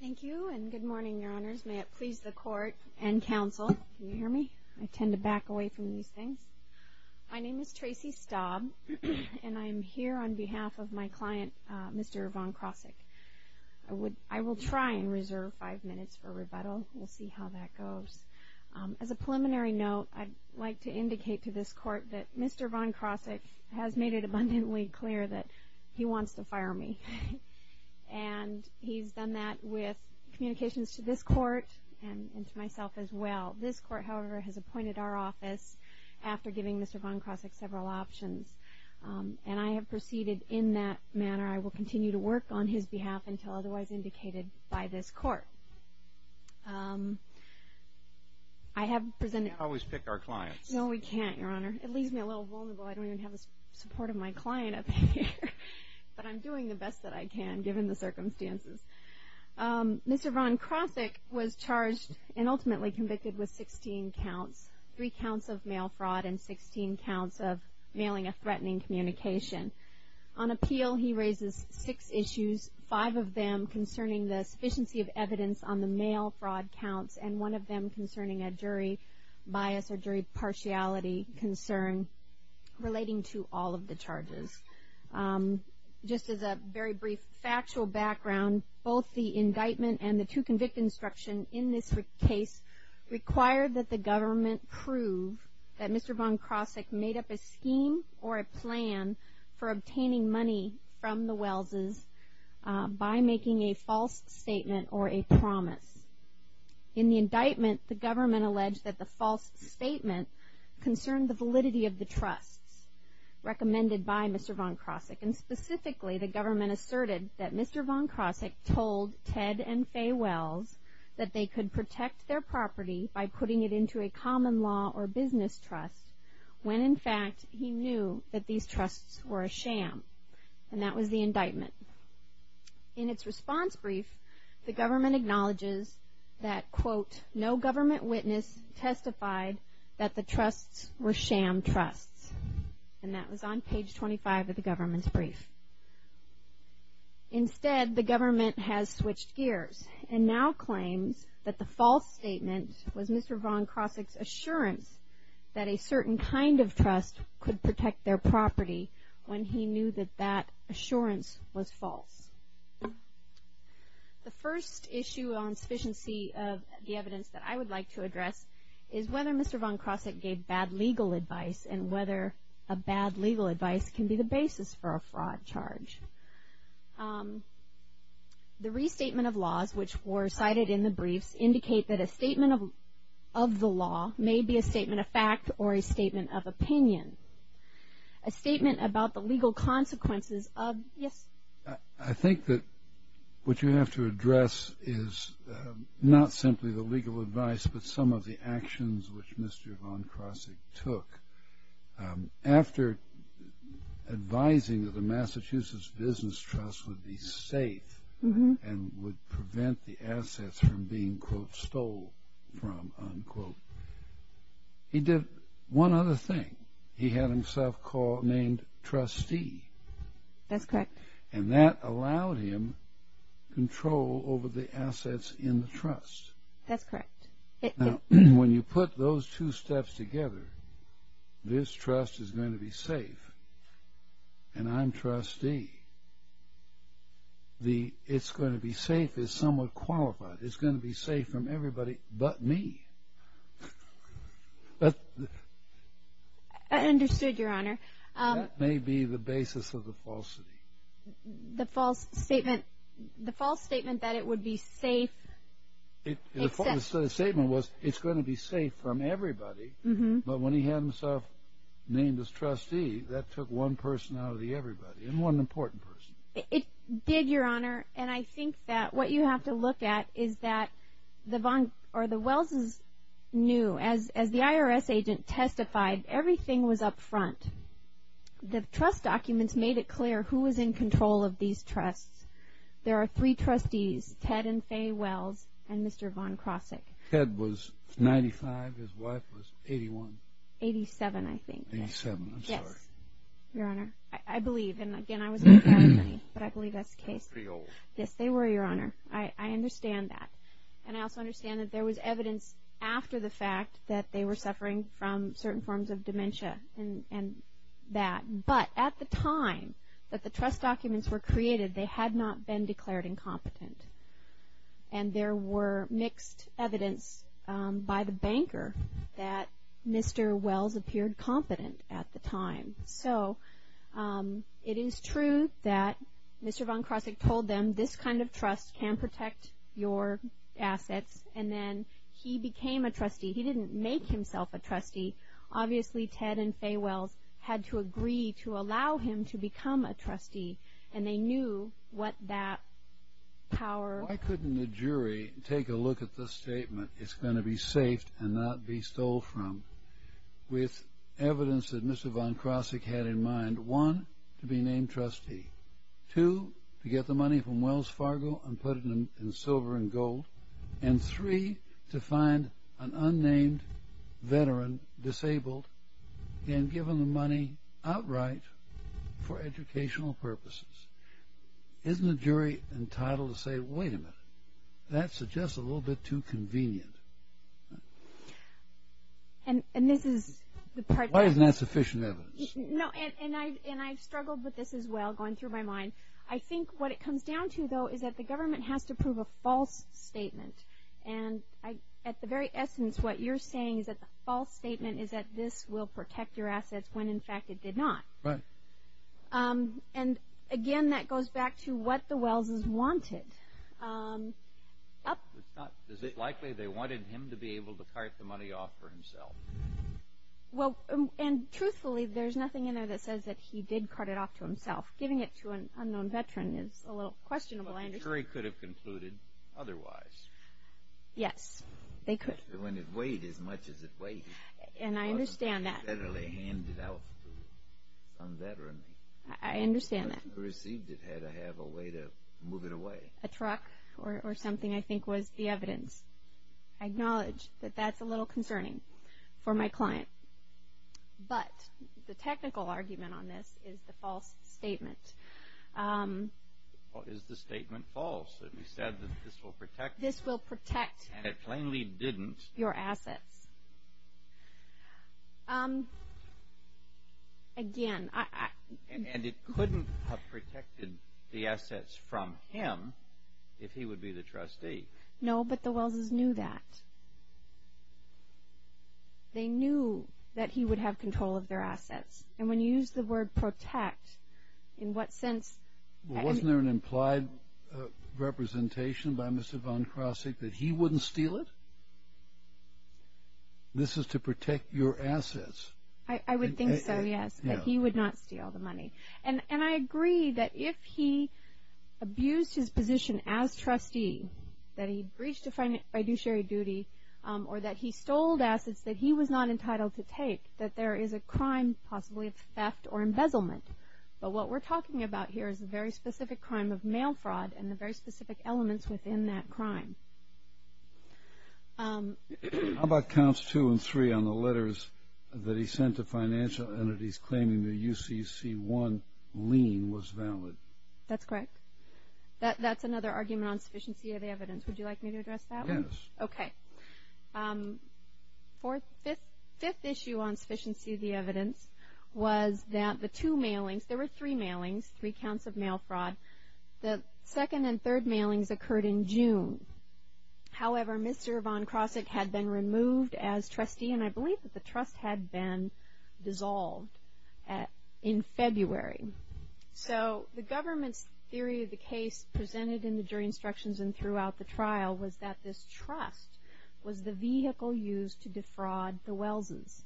Thank you and good morning your honors. May it please the court and counsel, can you hear me? I tend to back away from these things. My name is Tracy Staub and I am here on behalf of my client Mr. Von Krosigk. I will try and reserve five minutes for rebuttal. We'll see how that goes. As a preliminary note, I'd like to indicate to this court that Mr. Von Krosigk has made it abundantly clear that he wants to fire me. And he's done that with communications to this court and to myself as well. This court, however, has appointed our office after giving Mr. Von Krosigk several options. And I have proceeded in that manner. I will continue to work on his behalf until otherwise indicated by this court. I have presented... You can't always pick our clients. No we can't your honor. It leaves me a little vulnerable. I don't even have the support of my client up here. But I'm doing the best that I can given the circumstances. Mr. Von Krosigk was charged and ultimately convicted with 16 counts. Three counts of mail fraud and 16 counts of mailing a threatening communication. On appeal, he raises six issues. Five of them concerning the sufficiency of evidence on the mail fraud counts. And one of them concerning a jury bias or jury partiality concern relating to all of the charges. Just as a very brief factual background, both the indictment and the two-convict instruction in this case require that the government prove that Mr. Von Krosigk made up a scheme or a plan for obtaining money from the Wells' by making a false statement or a promise. In the indictment, the government alleged that the false statement concerned the validity of the trusts recommended by Mr. Von Krosigk. And specifically, the government asserted that Mr. Von Krosigk told Ted and Fay Wells that they could protect their property by putting it into a common law or business trust. When in fact, he knew that these trusts were a sham. And that was the indictment. In its response brief, the government acknowledges that, quote, no government witness testified that the trusts were sham trusts. And that was on page 25 of the government's brief. Instead, the government has switched gears and now claims that the false statement was Mr. Von Krosigk's assurance that a certain kind of trust could protect their property when he knew that that assurance was false. The first issue on sufficiency of the evidence that I would like to address is whether Mr. Von Krosigk gave bad legal advice and whether a bad legal advice can be the basis for a fraud charge. The restatement of laws which were cited in the briefs indicate that a statement of the law may be a statement of fact or a statement of opinion. A statement about the legal consequences of, yes? I think that what you have to address is not simply the legal advice but some of the actions which Mr. Von Krosigk took. After advising that the Massachusetts Business Trust would be safe and would prevent the assets from being, quote, stole from, unquote, he did one other thing. He had himself called, named trustee. That's correct. And that allowed him control over the assets in the trust. That's correct. Now, when you put those two steps together, this trust is going to be safe, and I'm trustee. The it's going to be safe is somewhat qualified. It's going to be safe from everybody but me. I understood, Your Honor. That may be the basis of the falsity. The false statement that it would be safe. The false statement was it's going to be safe from everybody. But when he had himself named as trustee, that took one person out of the everybody and one important person. It did, Your Honor, and I think that what you have to look at is that the Von or the Wells' knew, as the IRS agent testified, everything was up front. The trust documents made it clear who was in control of these trusts. There are three trustees, Ted and Faye Wells and Mr. Von Crossick. Ted was 95. His wife was 81. 87, I think. 87, I'm sorry. Yes, Your Honor. I believe, and again, I was in the family, but I believe that's the case. They were pretty old. Yes, they were, Your Honor. I understand that, and I also understand that there was evidence after the fact that they were suffering from certain forms of dementia and that, but at the time that the trust documents were created, they had not been declared incompetent, and there were mixed evidence by the banker that Mr. Wells appeared competent at the time. So it is true that Mr. Von Crossick told them this kind of trust can protect your assets, and then he became a trustee. He didn't make himself a trustee. Obviously, Ted and Faye Wells had to agree to allow him to become a trustee, and they knew what that power was. Why couldn't the jury take a look at the statement, it's going to be safed and not be stole from, with evidence that Mr. Von Crossick had in mind, one, to be named trustee, two, to get the money from Wells Fargo and put it in silver and gold, and three, to find an unnamed veteran, disabled, and give them the money outright for educational purposes. Isn't the jury entitled to say, wait a minute, that's just a little bit too convenient? And this is the part that... Why isn't that sufficient evidence? No, and I've struggled with this as well, going through my mind. I think what it comes down to, though, is that the government has to prove a false statement. And at the very essence, what you're saying is that the false statement is that this will protect your assets, when in fact it did not. Right. And again, that goes back to what the Wellses wanted. Is it likely they wanted him to be able to cart the money off for himself? Well, and truthfully, there's nothing in there that says that he did cart it off to himself. Giving it to an unknown veteran is a little questionable. But the jury could have concluded otherwise. Yes, they could. When it weighed as much as it weighed. And I understand that. It wasn't federally handed out to some veteran. I understand that. The person who received it had to have a way to move it away. A truck or something, I think, was the evidence. I acknowledge that that's a little concerning for my client. But the technical argument on this is the false statement. Is the statement false? It said that this will protect. This will protect. And it plainly didn't. Your assets. Again, I. And it couldn't have protected the assets from him if he would be the trustee. No, but the Welles' knew that. They knew that he would have control of their assets. And when you use the word protect, in what sense? Wasn't there an implied representation by Mr. Von Crossig that he wouldn't steal it? This is to protect your assets. I would think so, yes, that he would not steal the money. And I agree that if he abused his position as trustee, that he breached a fiduciary duty, or that he stole assets that he was not entitled to take, that there is a crime possibly of theft or embezzlement. But what we're talking about here is a very specific crime of mail fraud and the very specific elements within that crime. How about counts two and three on the letters that he sent to financial entities claiming the UCC1 lien was valid? That's correct. That's another argument on sufficiency of the evidence. Would you like me to address that one? Yes. Okay. Fifth issue on sufficiency of the evidence was that the two mailings, there were three mailings, three counts of mail fraud. The second and third mailings occurred in June. However, Mr. Von Crossig had been removed as trustee, and I believe that the trust had been dissolved in February. So the government's theory of the case presented in the jury instructions and throughout the trial was that this trust was the vehicle used to defraud the Wellses,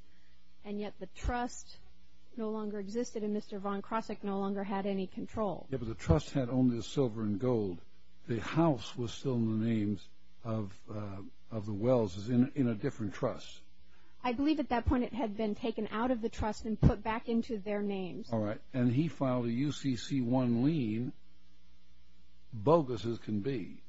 and yet the trust no longer existed and Mr. Von Crossig no longer had any control. Yes, but the trust had only the silver and gold. The house was still in the names of the Wellses in a different trust. I believe at that point it had been taken out of the trust and put back into their names. All right. And he filed a UCC1 lien bogus as can be.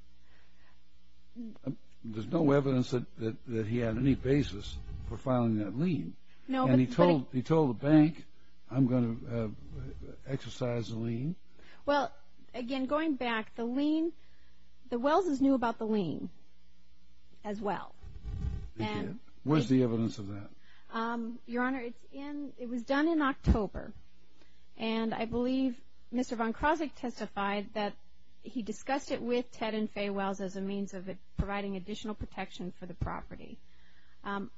There's no evidence that he had any basis for filing that lien. And he told the bank, I'm going to exercise the lien. Well, again, going back, the Wellses knew about the lien as well. They did. Where's the evidence of that? Your Honor, it was done in October, and I believe Mr. Von Crossig testified that he discussed it with Ted and Fay Wells as a means of providing additional protection for the property.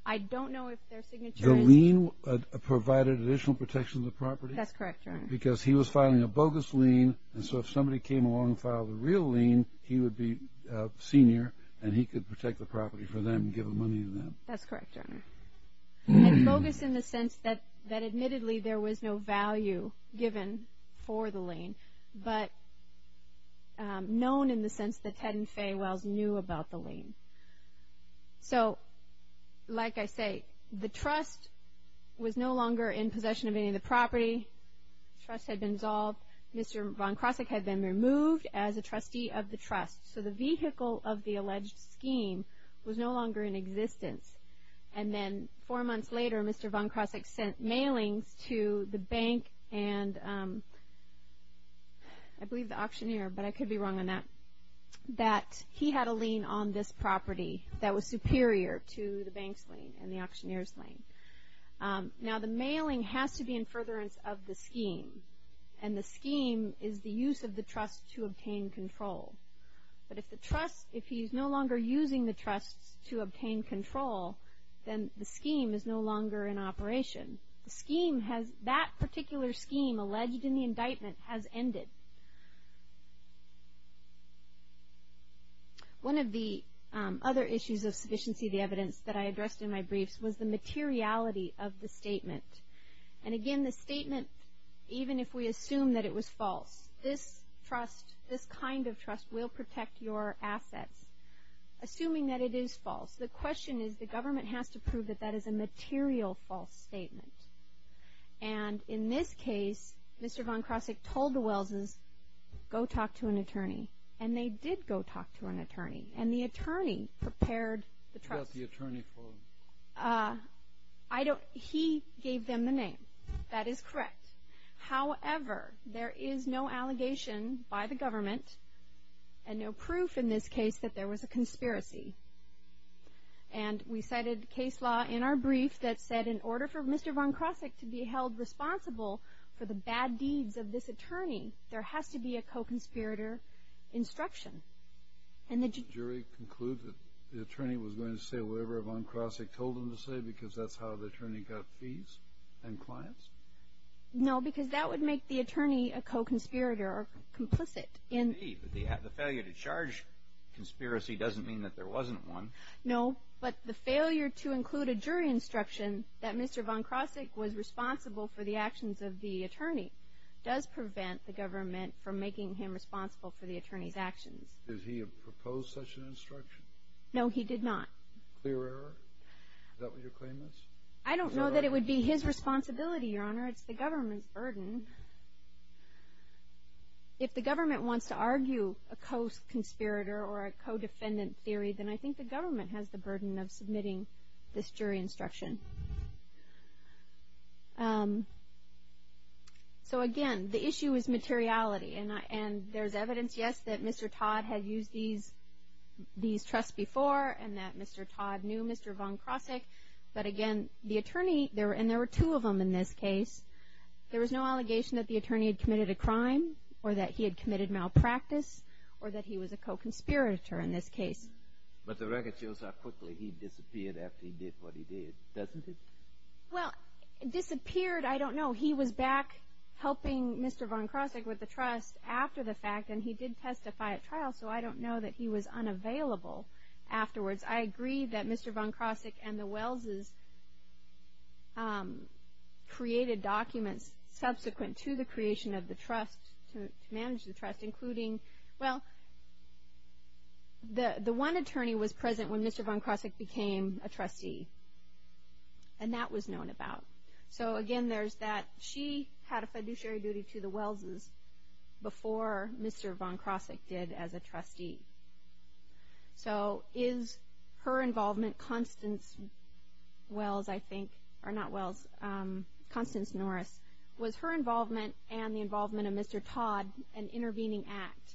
I don't know if their signature is. The lien provided additional protection to the property? That's correct, Your Honor. Because he was filing a bogus lien, and so if somebody came along and filed a real lien he would be senior and he could protect the property for them and give the money to them. That's correct, Your Honor. And bogus in the sense that admittedly there was no value given for the lien, but known in the sense that Ted and Fay Wells knew about the lien. So, like I say, the trust was no longer in possession of any of the property. The trust had been dissolved. Mr. Von Crossig had been removed as a trustee of the trust. So the vehicle of the alleged scheme was no longer in existence. And then four months later Mr. Von Crossig sent mailings to the bank and I believe the auctioneer, but I could be wrong on that, that he had a lien on this property that was superior to the bank's lien and the auctioneer's lien. Now the mailing has to be in furtherance of the scheme, and the scheme is the use of the trust to obtain control. But if he's no longer using the trust to obtain control, then the scheme is no longer in operation. The scheme has, that particular scheme alleged in the indictment has ended. One of the other issues of sufficiency of the evidence that I addressed in my briefs was the materiality of the statement. And again, the statement, even if we assume that it was false, this trust, this kind of trust will protect your assets, assuming that it is false. The question is the government has to prove that that is a material false statement. And in this case, Mr. Von Crossig told the Welles' go talk to an attorney, and they did go talk to an attorney, and the attorney prepared the trust. Who got the attorney for them? He gave them the name. That is correct. However, there is no allegation by the government and no proof in this case that there was a conspiracy. And we cited case law in our brief that said in order for Mr. Von Crossig to be held responsible for the bad deeds of this attorney, there has to be a co-conspirator instruction. And the jury concluded the attorney was going to say whatever Von Crossig told him to say because that's how the attorney got fees and clients? No, because that would make the attorney a co-conspirator or complicit. But the failure to charge conspiracy doesn't mean that there wasn't one. No, but the failure to include a jury instruction that Mr. Von Crossig was responsible for the actions of the attorney does prevent the government from making him responsible for the attorney's actions. Did he propose such an instruction? No, he did not. Clear error? Is that what your claim is? I don't know that it would be his responsibility, Your Honor. It's the government's burden. If the government wants to argue a co-conspirator or a co-defendant theory, then I think the government has the burden of submitting this jury instruction. So again, the issue is materiality. And there's evidence, yes, that Mr. Todd had used these trusts before and that Mr. Todd knew Mr. Von Crossig. But again, the attorney, and there were two of them in this case, there was no allegation that the attorney had committed a crime or that he had committed malpractice or that he was a co-conspirator in this case. But the record shows how quickly he disappeared after he did what he did, doesn't it? Well, disappeared, I don't know. He was back helping Mr. Von Crossig with the trust after the fact, and he did testify at trial, so I don't know that he was unavailable afterwards. I agree that Mr. Von Crossig and the Wellses created documents subsequent to the creation of the trust, to manage the trust, including, well, the one attorney was present when Mr. Von Crossig became a trustee, and that was known about. So again, there's that. She had a fiduciary duty to the Wellses before Mr. Von Crossig did as a trustee. So is her involvement, Constance Wells, I think, or not Wells, Constance Norris, was her involvement and the involvement of Mr. Todd an intervening act,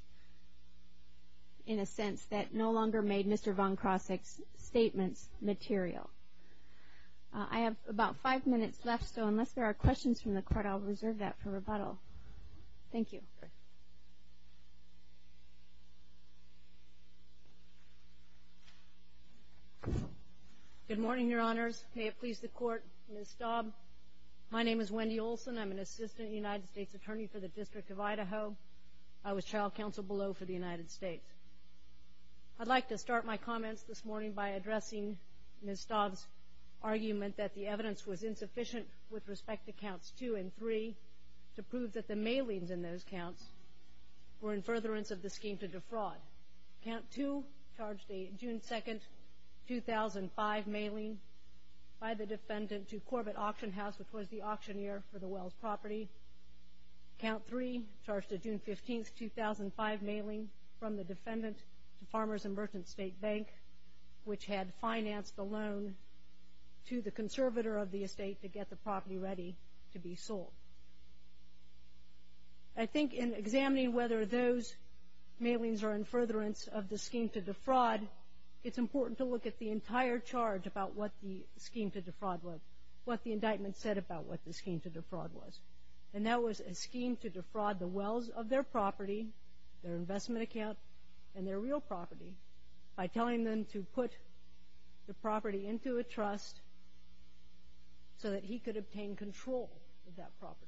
in a sense, that no longer made Mr. Von Crossig's statements material? I have about five minutes left, so unless there are questions from the court, I'll reserve that for rebuttal. Thank you. Good morning, Your Honors. May it please the Court, Ms. Staub. My name is Wendy Olson. I'm an assistant United States attorney for the District of Idaho. I was child counsel below for the United States. I'd like to start my comments this morning by addressing Ms. Staub's argument that the evidence was insufficient with respect to counts two and three to prove that the mailings in those counts were in furtherance of the scheme to defraud. Count two charged a June 2, 2005 mailing by the defendant to Corbett Auction House, which was the auctioneer for the Wells property. Count three charged a June 15, 2005 mailing from the defendant to Farmers and Merchants State Bank, which had financed a loan to the conservator of the estate to get the property ready to be sold. I think in examining whether those mailings are in furtherance of the scheme to defraud, it's important to look at the entire charge about what the scheme to defraud was, what the indictment said about what the scheme to defraud was. And that was a scheme to defraud the Wells of their property, their investment account, and their real property by telling them to put the property into a trust so that he could obtain control of that property.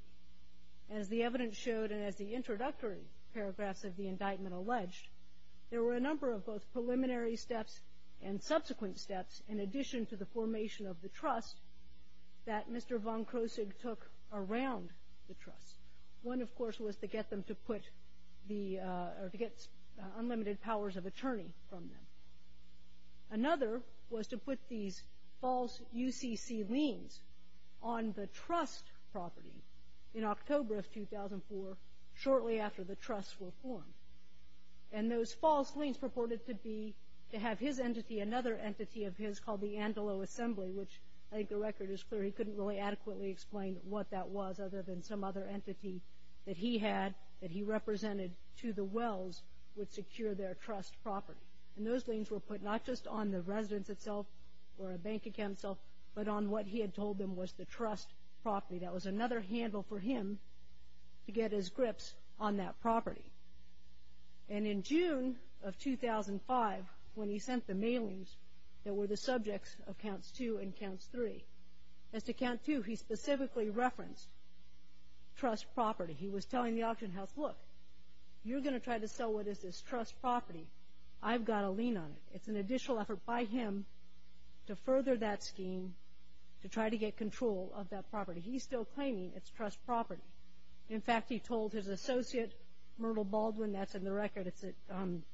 As the evidence showed and as the introductory paragraphs of the indictment alleged, there were a number of both preliminary steps and subsequent steps, in addition to the formation of the trust, that Mr. von Kroesig took around the trust. One, of course, was to get unlimited powers of attorney from them. Another was to put these false UCC liens on the trust property in October of 2004, shortly after the trusts were formed. And those false liens purported to have his entity, another entity of his, called the Antelope Assembly, which I think the record is clear he couldn't really adequately explain what that was other than some other entity that he had that he represented to the Wells would secure their trust property. And those liens were put not just on the residence itself or a bank account itself, but on what he had told them was the trust property. That was another handle for him to get his grips on that property. And in June of 2005, when he sent the mailings that were the subjects of Counts 2 and Counts 3, as to Count 2, he specifically referenced trust property. He was telling the auction house, look, you're going to try to sell what is this trust property. I've got to lean on it. It's an additional effort by him to further that scheme to try to get control of that property. He's still claiming it's trust property. In fact, he told his associate, Myrtle Baldwin, that's in the record. I can't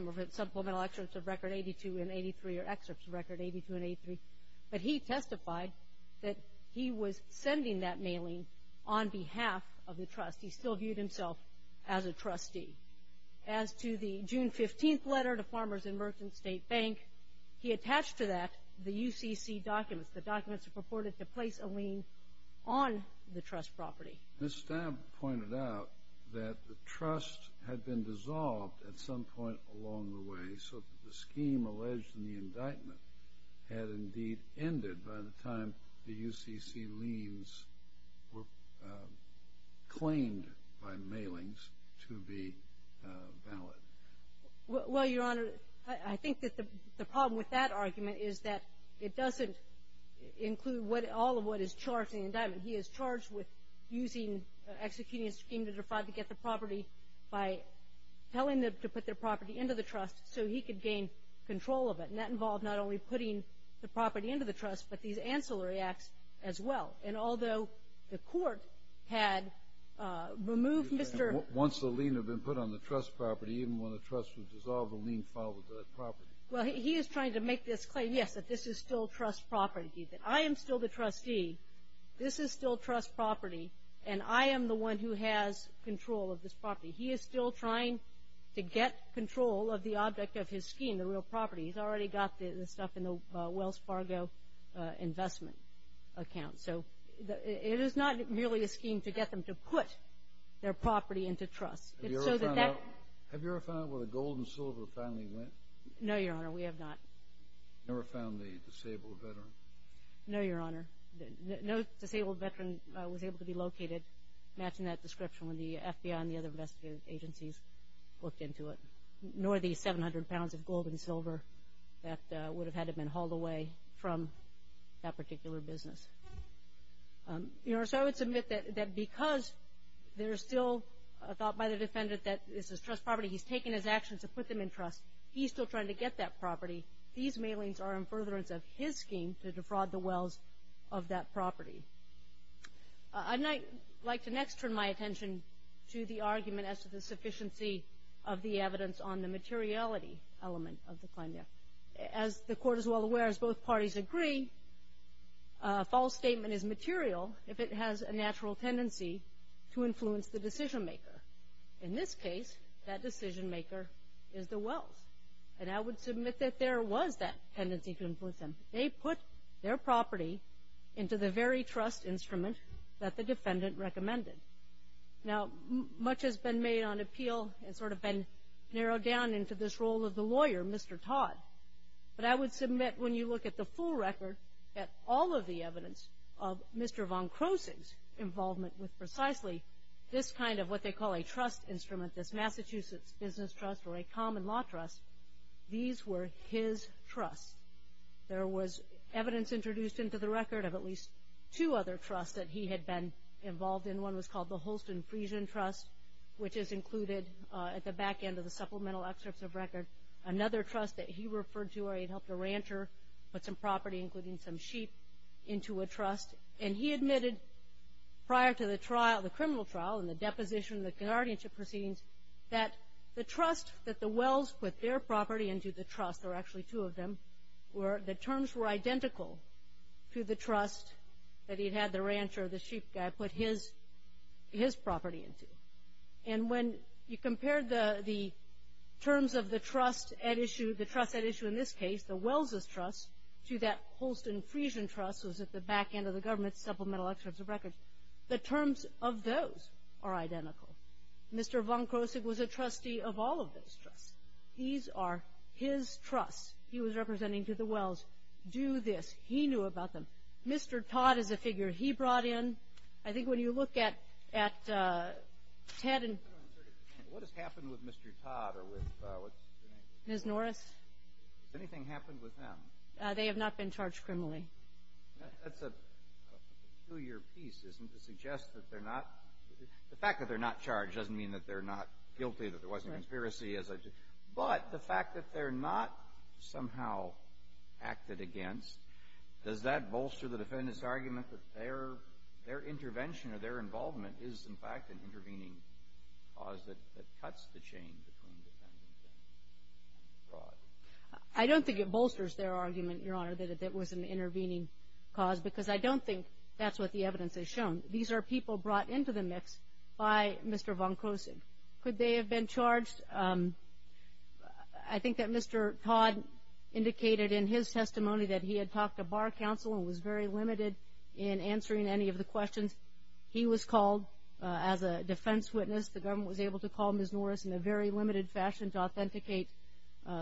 remember if it's supplemental excerpts of record 82 and 83 or excerpts of record 82 and 83. But he testified that he was sending that mailing on behalf of the trust. He still viewed himself as a trustee. As to the June 15th letter to Farmers and Merchants State Bank, he attached to that the UCC documents. The documents purported to place a lien on the trust property. Ms. Staab pointed out that the trust had been dissolved at some point along the way so that the scheme alleged in the indictment had indeed ended by the time the UCC liens were claimed by mailings to be valid. Well, Your Honor, I think that the problem with that argument is that it doesn't include all of what is charged in the indictment. He is charged with executing a scheme to try to get the property by telling them to put their property into the trust. So he could gain control of it. And that involved not only putting the property into the trust, but these ancillary acts as well. And although the court had removed Mr. Once the lien had been put on the trust property, even when the trust was dissolved, the lien followed that property. Well, he is trying to make this claim, yes, that this is still trust property. I am still the trustee. This is still trust property. And I am the one who has control of this property. He is still trying to get control of the object of his scheme, the real property. He's already got the stuff in the Wells Fargo investment account. So it is not merely a scheme to get them to put their property into trust. Have you ever found out where the gold and silver family went? No, Your Honor, we have not. Have you ever found the disabled veteran? No, Your Honor. No disabled veteran was able to be located matching that description when the FBI and the other investigative agencies looked into it, nor the 700 pounds of gold and silver that would have had to have been hauled away from that particular business. Your Honor, so I would submit that because there is still a thought by the defendant that this is trust property, he's taken his actions to put them in trust. He's still trying to get that property. These mailings are in furtherance of his scheme to defraud the Wells of that property. I'd like to next turn my attention to the argument as to the sufficiency of the evidence on the materiality element of the claim. As the Court is well aware, as both parties agree, a false statement is material if it has a natural tendency to influence the decision-maker. In this case, that decision-maker is the Wells. And I would submit that there was that tendency to influence them. They put their property into the very trust instrument that the defendant recommended. Now, much has been made on appeal and sort of been narrowed down into this role of the lawyer, Mr. Todd. But I would submit when you look at the full record, that all of the evidence of Mr. von Kroessig's involvement with precisely this kind of what they call a trust instrument, this Massachusetts Business Trust or a common law trust, these were his trusts. There was evidence introduced into the record of at least two other trusts that he had been involved in. One was called the Holston-Friesian Trust, which is included at the back end of the supplemental excerpts of record. Another trust that he referred to where he had helped a rancher put some property, including some sheep, into a trust. And he admitted prior to the trial, the criminal trial and the deposition, the guardianship proceedings, that the trust that the Wells put their property into the trust, there were actually two of them, where the terms were identical to the trust that he had had the rancher or the sheep guy put his property into. And when you compare the terms of the trust at issue, the trust at issue in this case, the Wells' trust, to that Holston-Friesian trust that was at the back end of the government's supplemental excerpts of record, the terms of those are identical. Mr. von Kroessig was a trustee of all of those trusts. These are his trusts he was representing to the Wells. Do this. He knew about them. Mr. Todd is a figure he brought in. I think when you look at Ted and – What has happened with Mr. Todd or with – Ms. Norris? Has anything happened with them? They have not been charged criminally. That's a two-year piece, isn't it, to suggest that they're not – the fact that they're not charged doesn't mean that they're not guilty, that there wasn't a conspiracy. But the fact that they're not somehow acted against, does that bolster the defendant's argument that their intervention or their involvement is, in fact, an intervening cause that cuts the chain between the defendant and Mr. Todd? I don't think it bolsters their argument, Your Honor, that it was an intervening cause, because I don't think that's what the evidence has shown. These are people brought into the mix by Mr. von Kroessig. Could they have been charged? I think that Mr. Todd indicated in his testimony that he had talked to bar counsel and was very limited in answering any of the questions. He was called as a defense witness. The government was able to call Ms. Norris in a very limited fashion to authenticate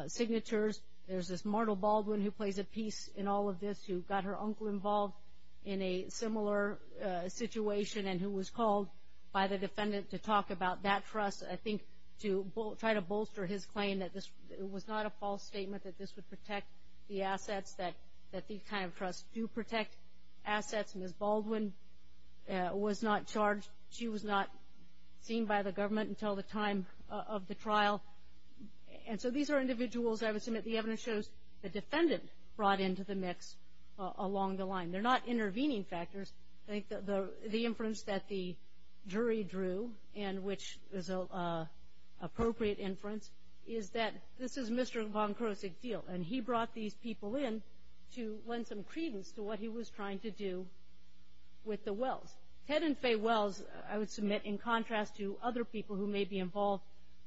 signatures. There's this Martel Baldwin who plays a piece in all of this, who got her uncle involved in a similar situation and who was called by the defendant to talk about that trust. I think to try to bolster his claim that this was not a false statement, that this would protect the assets, that these kind of trusts do protect assets. Ms. Baldwin was not charged. She was not seen by the government until the time of the trial. And so these are individuals I would submit the evidence shows the defendant brought into the mix along the line. They're not intervening factors. I think the inference that the jury drew, and which is an appropriate inference, is that this is Mr. von Kroessig's deal, and he brought these people in to lend some credence to what he was trying to do with the Wells. Ted and Fay Wells, I would submit, in contrast to other people who may be involved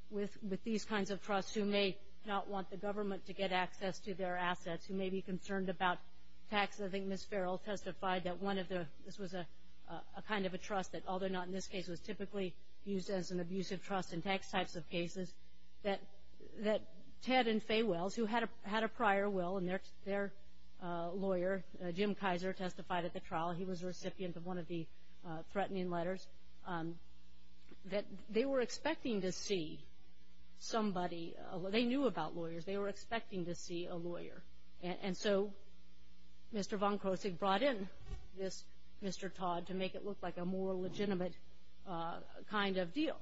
with these kinds of trusts, who may not want the government to get access to their assets, who may be concerned about tax. I think Ms. Farrell testified that this was a kind of a trust that, although not in this case, was typically used as an abusive trust in tax types of cases, that Ted and Fay Wells, who had a prior will, and their lawyer, Jim Kaiser, testified at the trial. He was a recipient of one of the threatening letters. They were expecting to see somebody. They knew about lawyers. They were expecting to see a lawyer. And so Mr. von Kroessig brought in this Mr. Todd to make it look like a more legitimate kind of deal.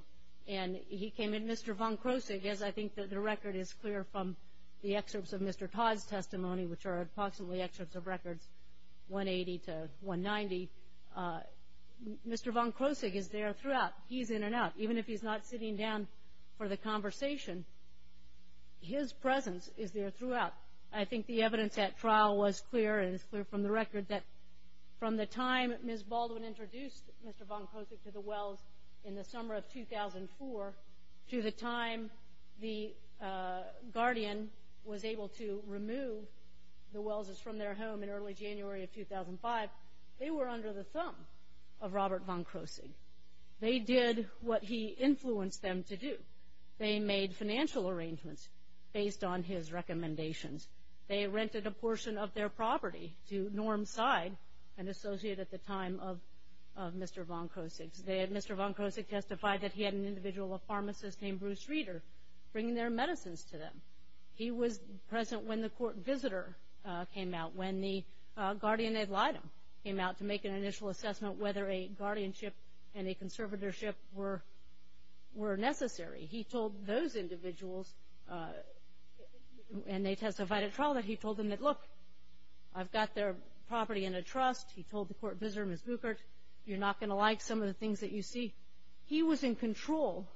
And he came in. Mr. von Kroessig, as I think the record is clear from the excerpts of Mr. Todd's testimony, which are approximately excerpts of records 180 to 190, Mr. von Kroessig is there throughout. He's in and out. Even if he's not sitting down for the conversation, his presence is there throughout. I think the evidence at trial was clear, and it's clear from the record, that from the time Ms. Baldwin introduced Mr. von Kroessig to the Wells in the summer of 2004 to the time the Guardian was able to remove the Wellses from their home in early January of 2005, they were under the thumb of Robert von Kroessig. They did what he influenced them to do. They made financial arrangements based on his recommendations. They rented a portion of their property to Norm Seid, an associate at the time of Mr. von Kroessig. They had Mr. von Kroessig testify that he had an individual, a pharmacist named Bruce Reeder, bring their medicines to them. He was present when the court visitor came out, when the Guardian ad litem came out to make an initial assessment whether a guardianship and a conservatorship were necessary. He told those individuals, and they testified at trial, that he told them that, look, I've got their property in a trust. He told the court visitor, Ms. Buchert, you're not going to like some of the things that you see. He was in control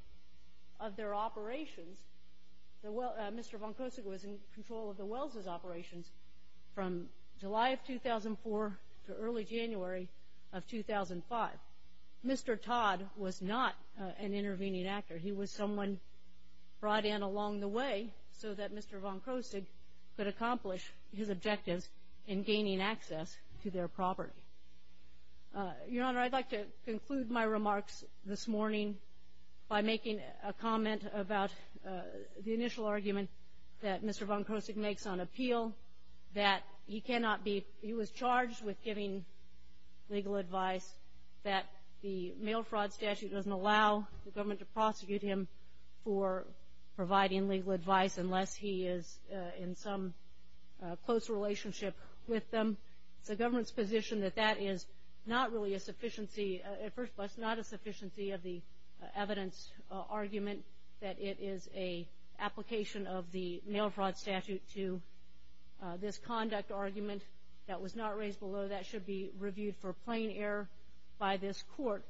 of their operations. Mr. von Kroessig was in control of the Wellses' operations from July of 2004 to early January of 2005. Mr. Todd was not an intervening actor. He was someone brought in along the way so that Mr. von Kroessig could accomplish his objectives in gaining access to their property. Your Honor, I'd like to conclude my remarks this morning by making a comment about the initial argument that Mr. von Kroessig makes on appeal, that he was charged with giving legal advice, that the mail fraud statute doesn't allow the government to prosecute him for providing legal advice unless he is in some close relationship with them. It's the government's position that that is not really a sufficiency, at first place, not a sufficiency of the evidence argument, that it is an application of the mail fraud statute to this conduct argument that was not raised below. That should be reviewed for plain error by this court.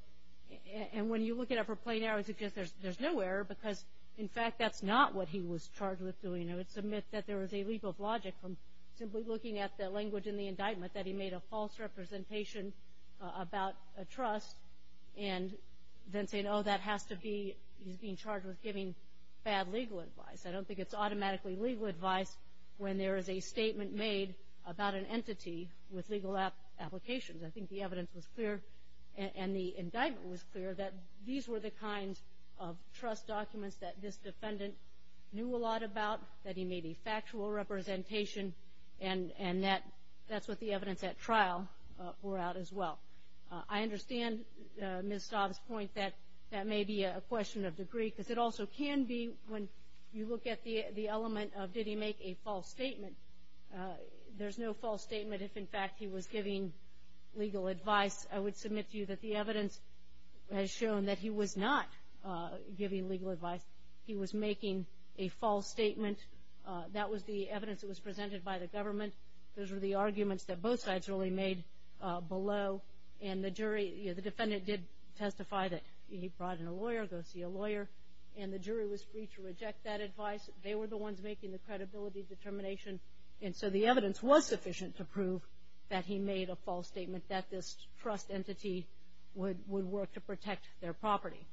And when you look at it for plain error, it suggests there's no error because, in fact, that's not what he was charged with doing. It's a myth that there was a leap of logic from simply looking at the language in the indictment that he made a false representation about a trust and then saying, oh, that has to be, he's being charged with giving bad legal advice. I don't think it's automatically legal advice when there is a statement made about an entity with legal applications. I think the evidence was clear and the indictment was clear that these were the kinds of trust documents that this defendant knew a lot about, that he made a factual representation, and that's what the evidence at trial bore out as well. I understand Ms. Staub's point that that may be a question of degree because it also can be when you look at the element of did he make a false statement. There's no false statement if, in fact, he was giving legal advice. I would submit to you that the evidence has shown that he was not giving legal advice. He was making a false statement. That was the evidence that was presented by the government. Those were the arguments that both sides really made below. And the jury, the defendant did testify that he brought in a lawyer, go see a lawyer, and the jury was free to reject that advice. They were the ones making the credibility determination, and so the evidence was sufficient to prove that he made a false statement, that this trust entity would work to protect their property.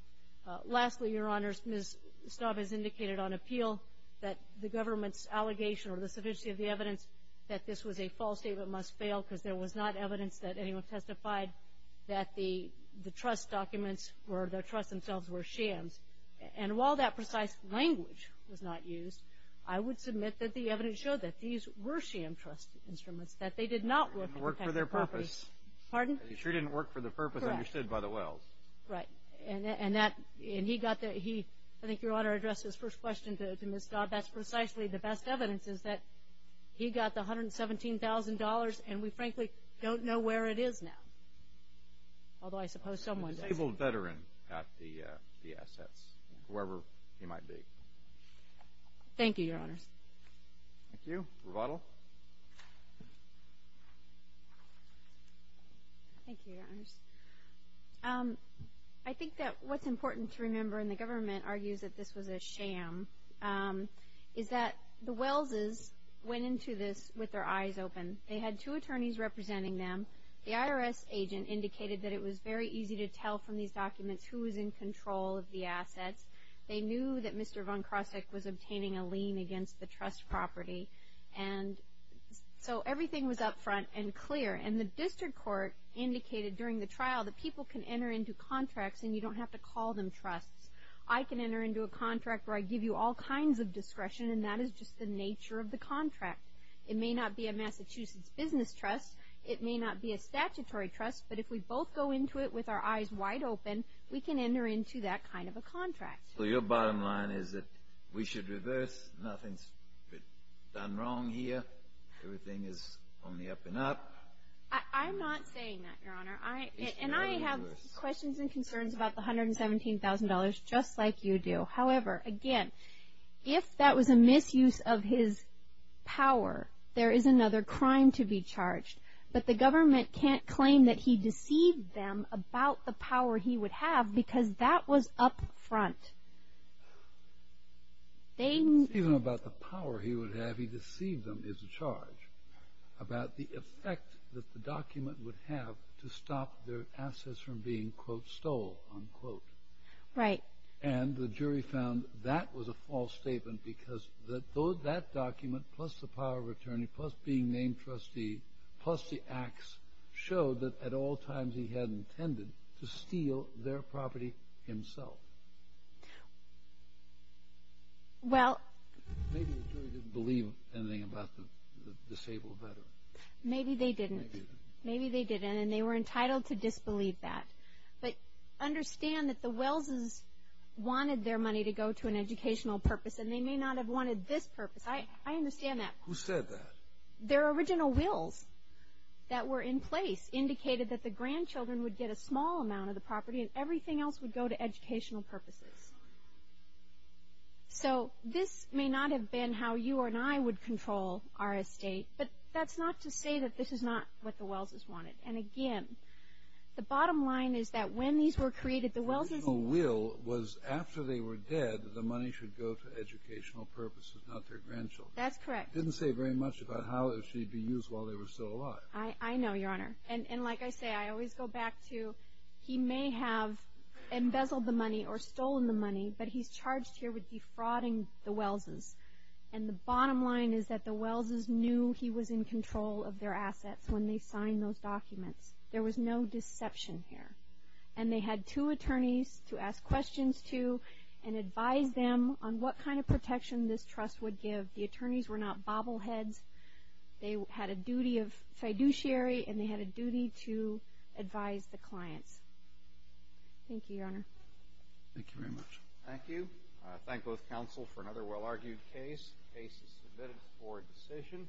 Lastly, Your Honors, Ms. Staub has indicated on appeal that the government's allegation or the sufficiency of the evidence that this was a false statement must fail because there was not evidence that anyone testified that the trust documents or the trust themselves were shams. And while that precise language was not used, I would submit that the evidence showed that these were sham trust instruments, that they did not work to protect their property. They didn't work for their purpose. Pardon? They sure didn't work for the purpose understood by the Wells. Correct. Right. And he got the – I think Your Honor addressed this first question to Ms. Staub. That's precisely the best evidence is that he got the $117,000, and we frankly don't know where it is now, although I suppose someone does. A disabled veteran got the assets, whoever he might be. Thank you, Your Honors. Thank you. Rebuttal? Thank you, Your Honors. I think that what's important to remember, and the government argues that this was a sham, is that the Wells' went into this with their eyes open. They had two attorneys representing them. The IRS agent indicated that it was very easy to tell from these documents who was in control of the assets. They knew that Mr. Von Crossek was obtaining a lien against the trust property, and so everything was up front and clear. And the district court indicated during the trial that people can enter into contracts, and you don't have to call them trusts. I can enter into a contract where I give you all kinds of discretion, and that is just the nature of the contract. It may not be a Massachusetts business trust. It may not be a statutory trust. But if we both go into it with our eyes wide open, we can enter into that kind of a contract. So your bottom line is that we should reverse. Nothing's been done wrong here. Everything is only up and up. I'm not saying that, Your Honor. And I have questions and concerns about the $117,000, just like you do. However, again, if that was a misuse of his power, there is another crime to be charged. But the government can't claim that he deceived them about the power he would have because that was up front. Even about the power he would have, he deceived them as a charge, about the effect that the document would have to stop their assets from being, quote, stole, unquote. Right. And the jury found that was a false statement because that document, plus the power of attorney, plus being named trustee, plus the acts showed that at all times he had intended to steal their property himself. Maybe the jury didn't believe anything about the disabled veteran. Maybe they didn't. Maybe they didn't. And they were entitled to disbelieve that. But understand that the Wells's wanted their money to go to an educational purpose, and they may not have wanted this purpose. I understand that. Who said that? Their original wills that were in place indicated that the grandchildren would get a small amount of the property and everything else would go to educational purposes. So this may not have been how you and I would control our estate, but that's not to say that this is not what the Wells's wanted. And, again, the bottom line is that when these were created, the Wells's will was after they were dead, the money should go to educational purposes, not their grandchildren. That's correct. It didn't say very much about how it should be used while they were still alive. I know, Your Honor. And like I say, I always go back to he may have embezzled the money or stolen the money, but he's charged here with defrauding the Wells's. And the bottom line is that the Wells's knew he was in control of their assets when they signed those documents. There was no deception here. And they had two attorneys to ask questions to and advise them on what kind of protection this trust would give. The attorneys were not bobbleheads. They had a duty of fiduciary, and they had a duty to advise the clients. Thank you, Your Honor. Thank you very much. Thank you. I thank both counsel for another well-argued case. The case is submitted for decision.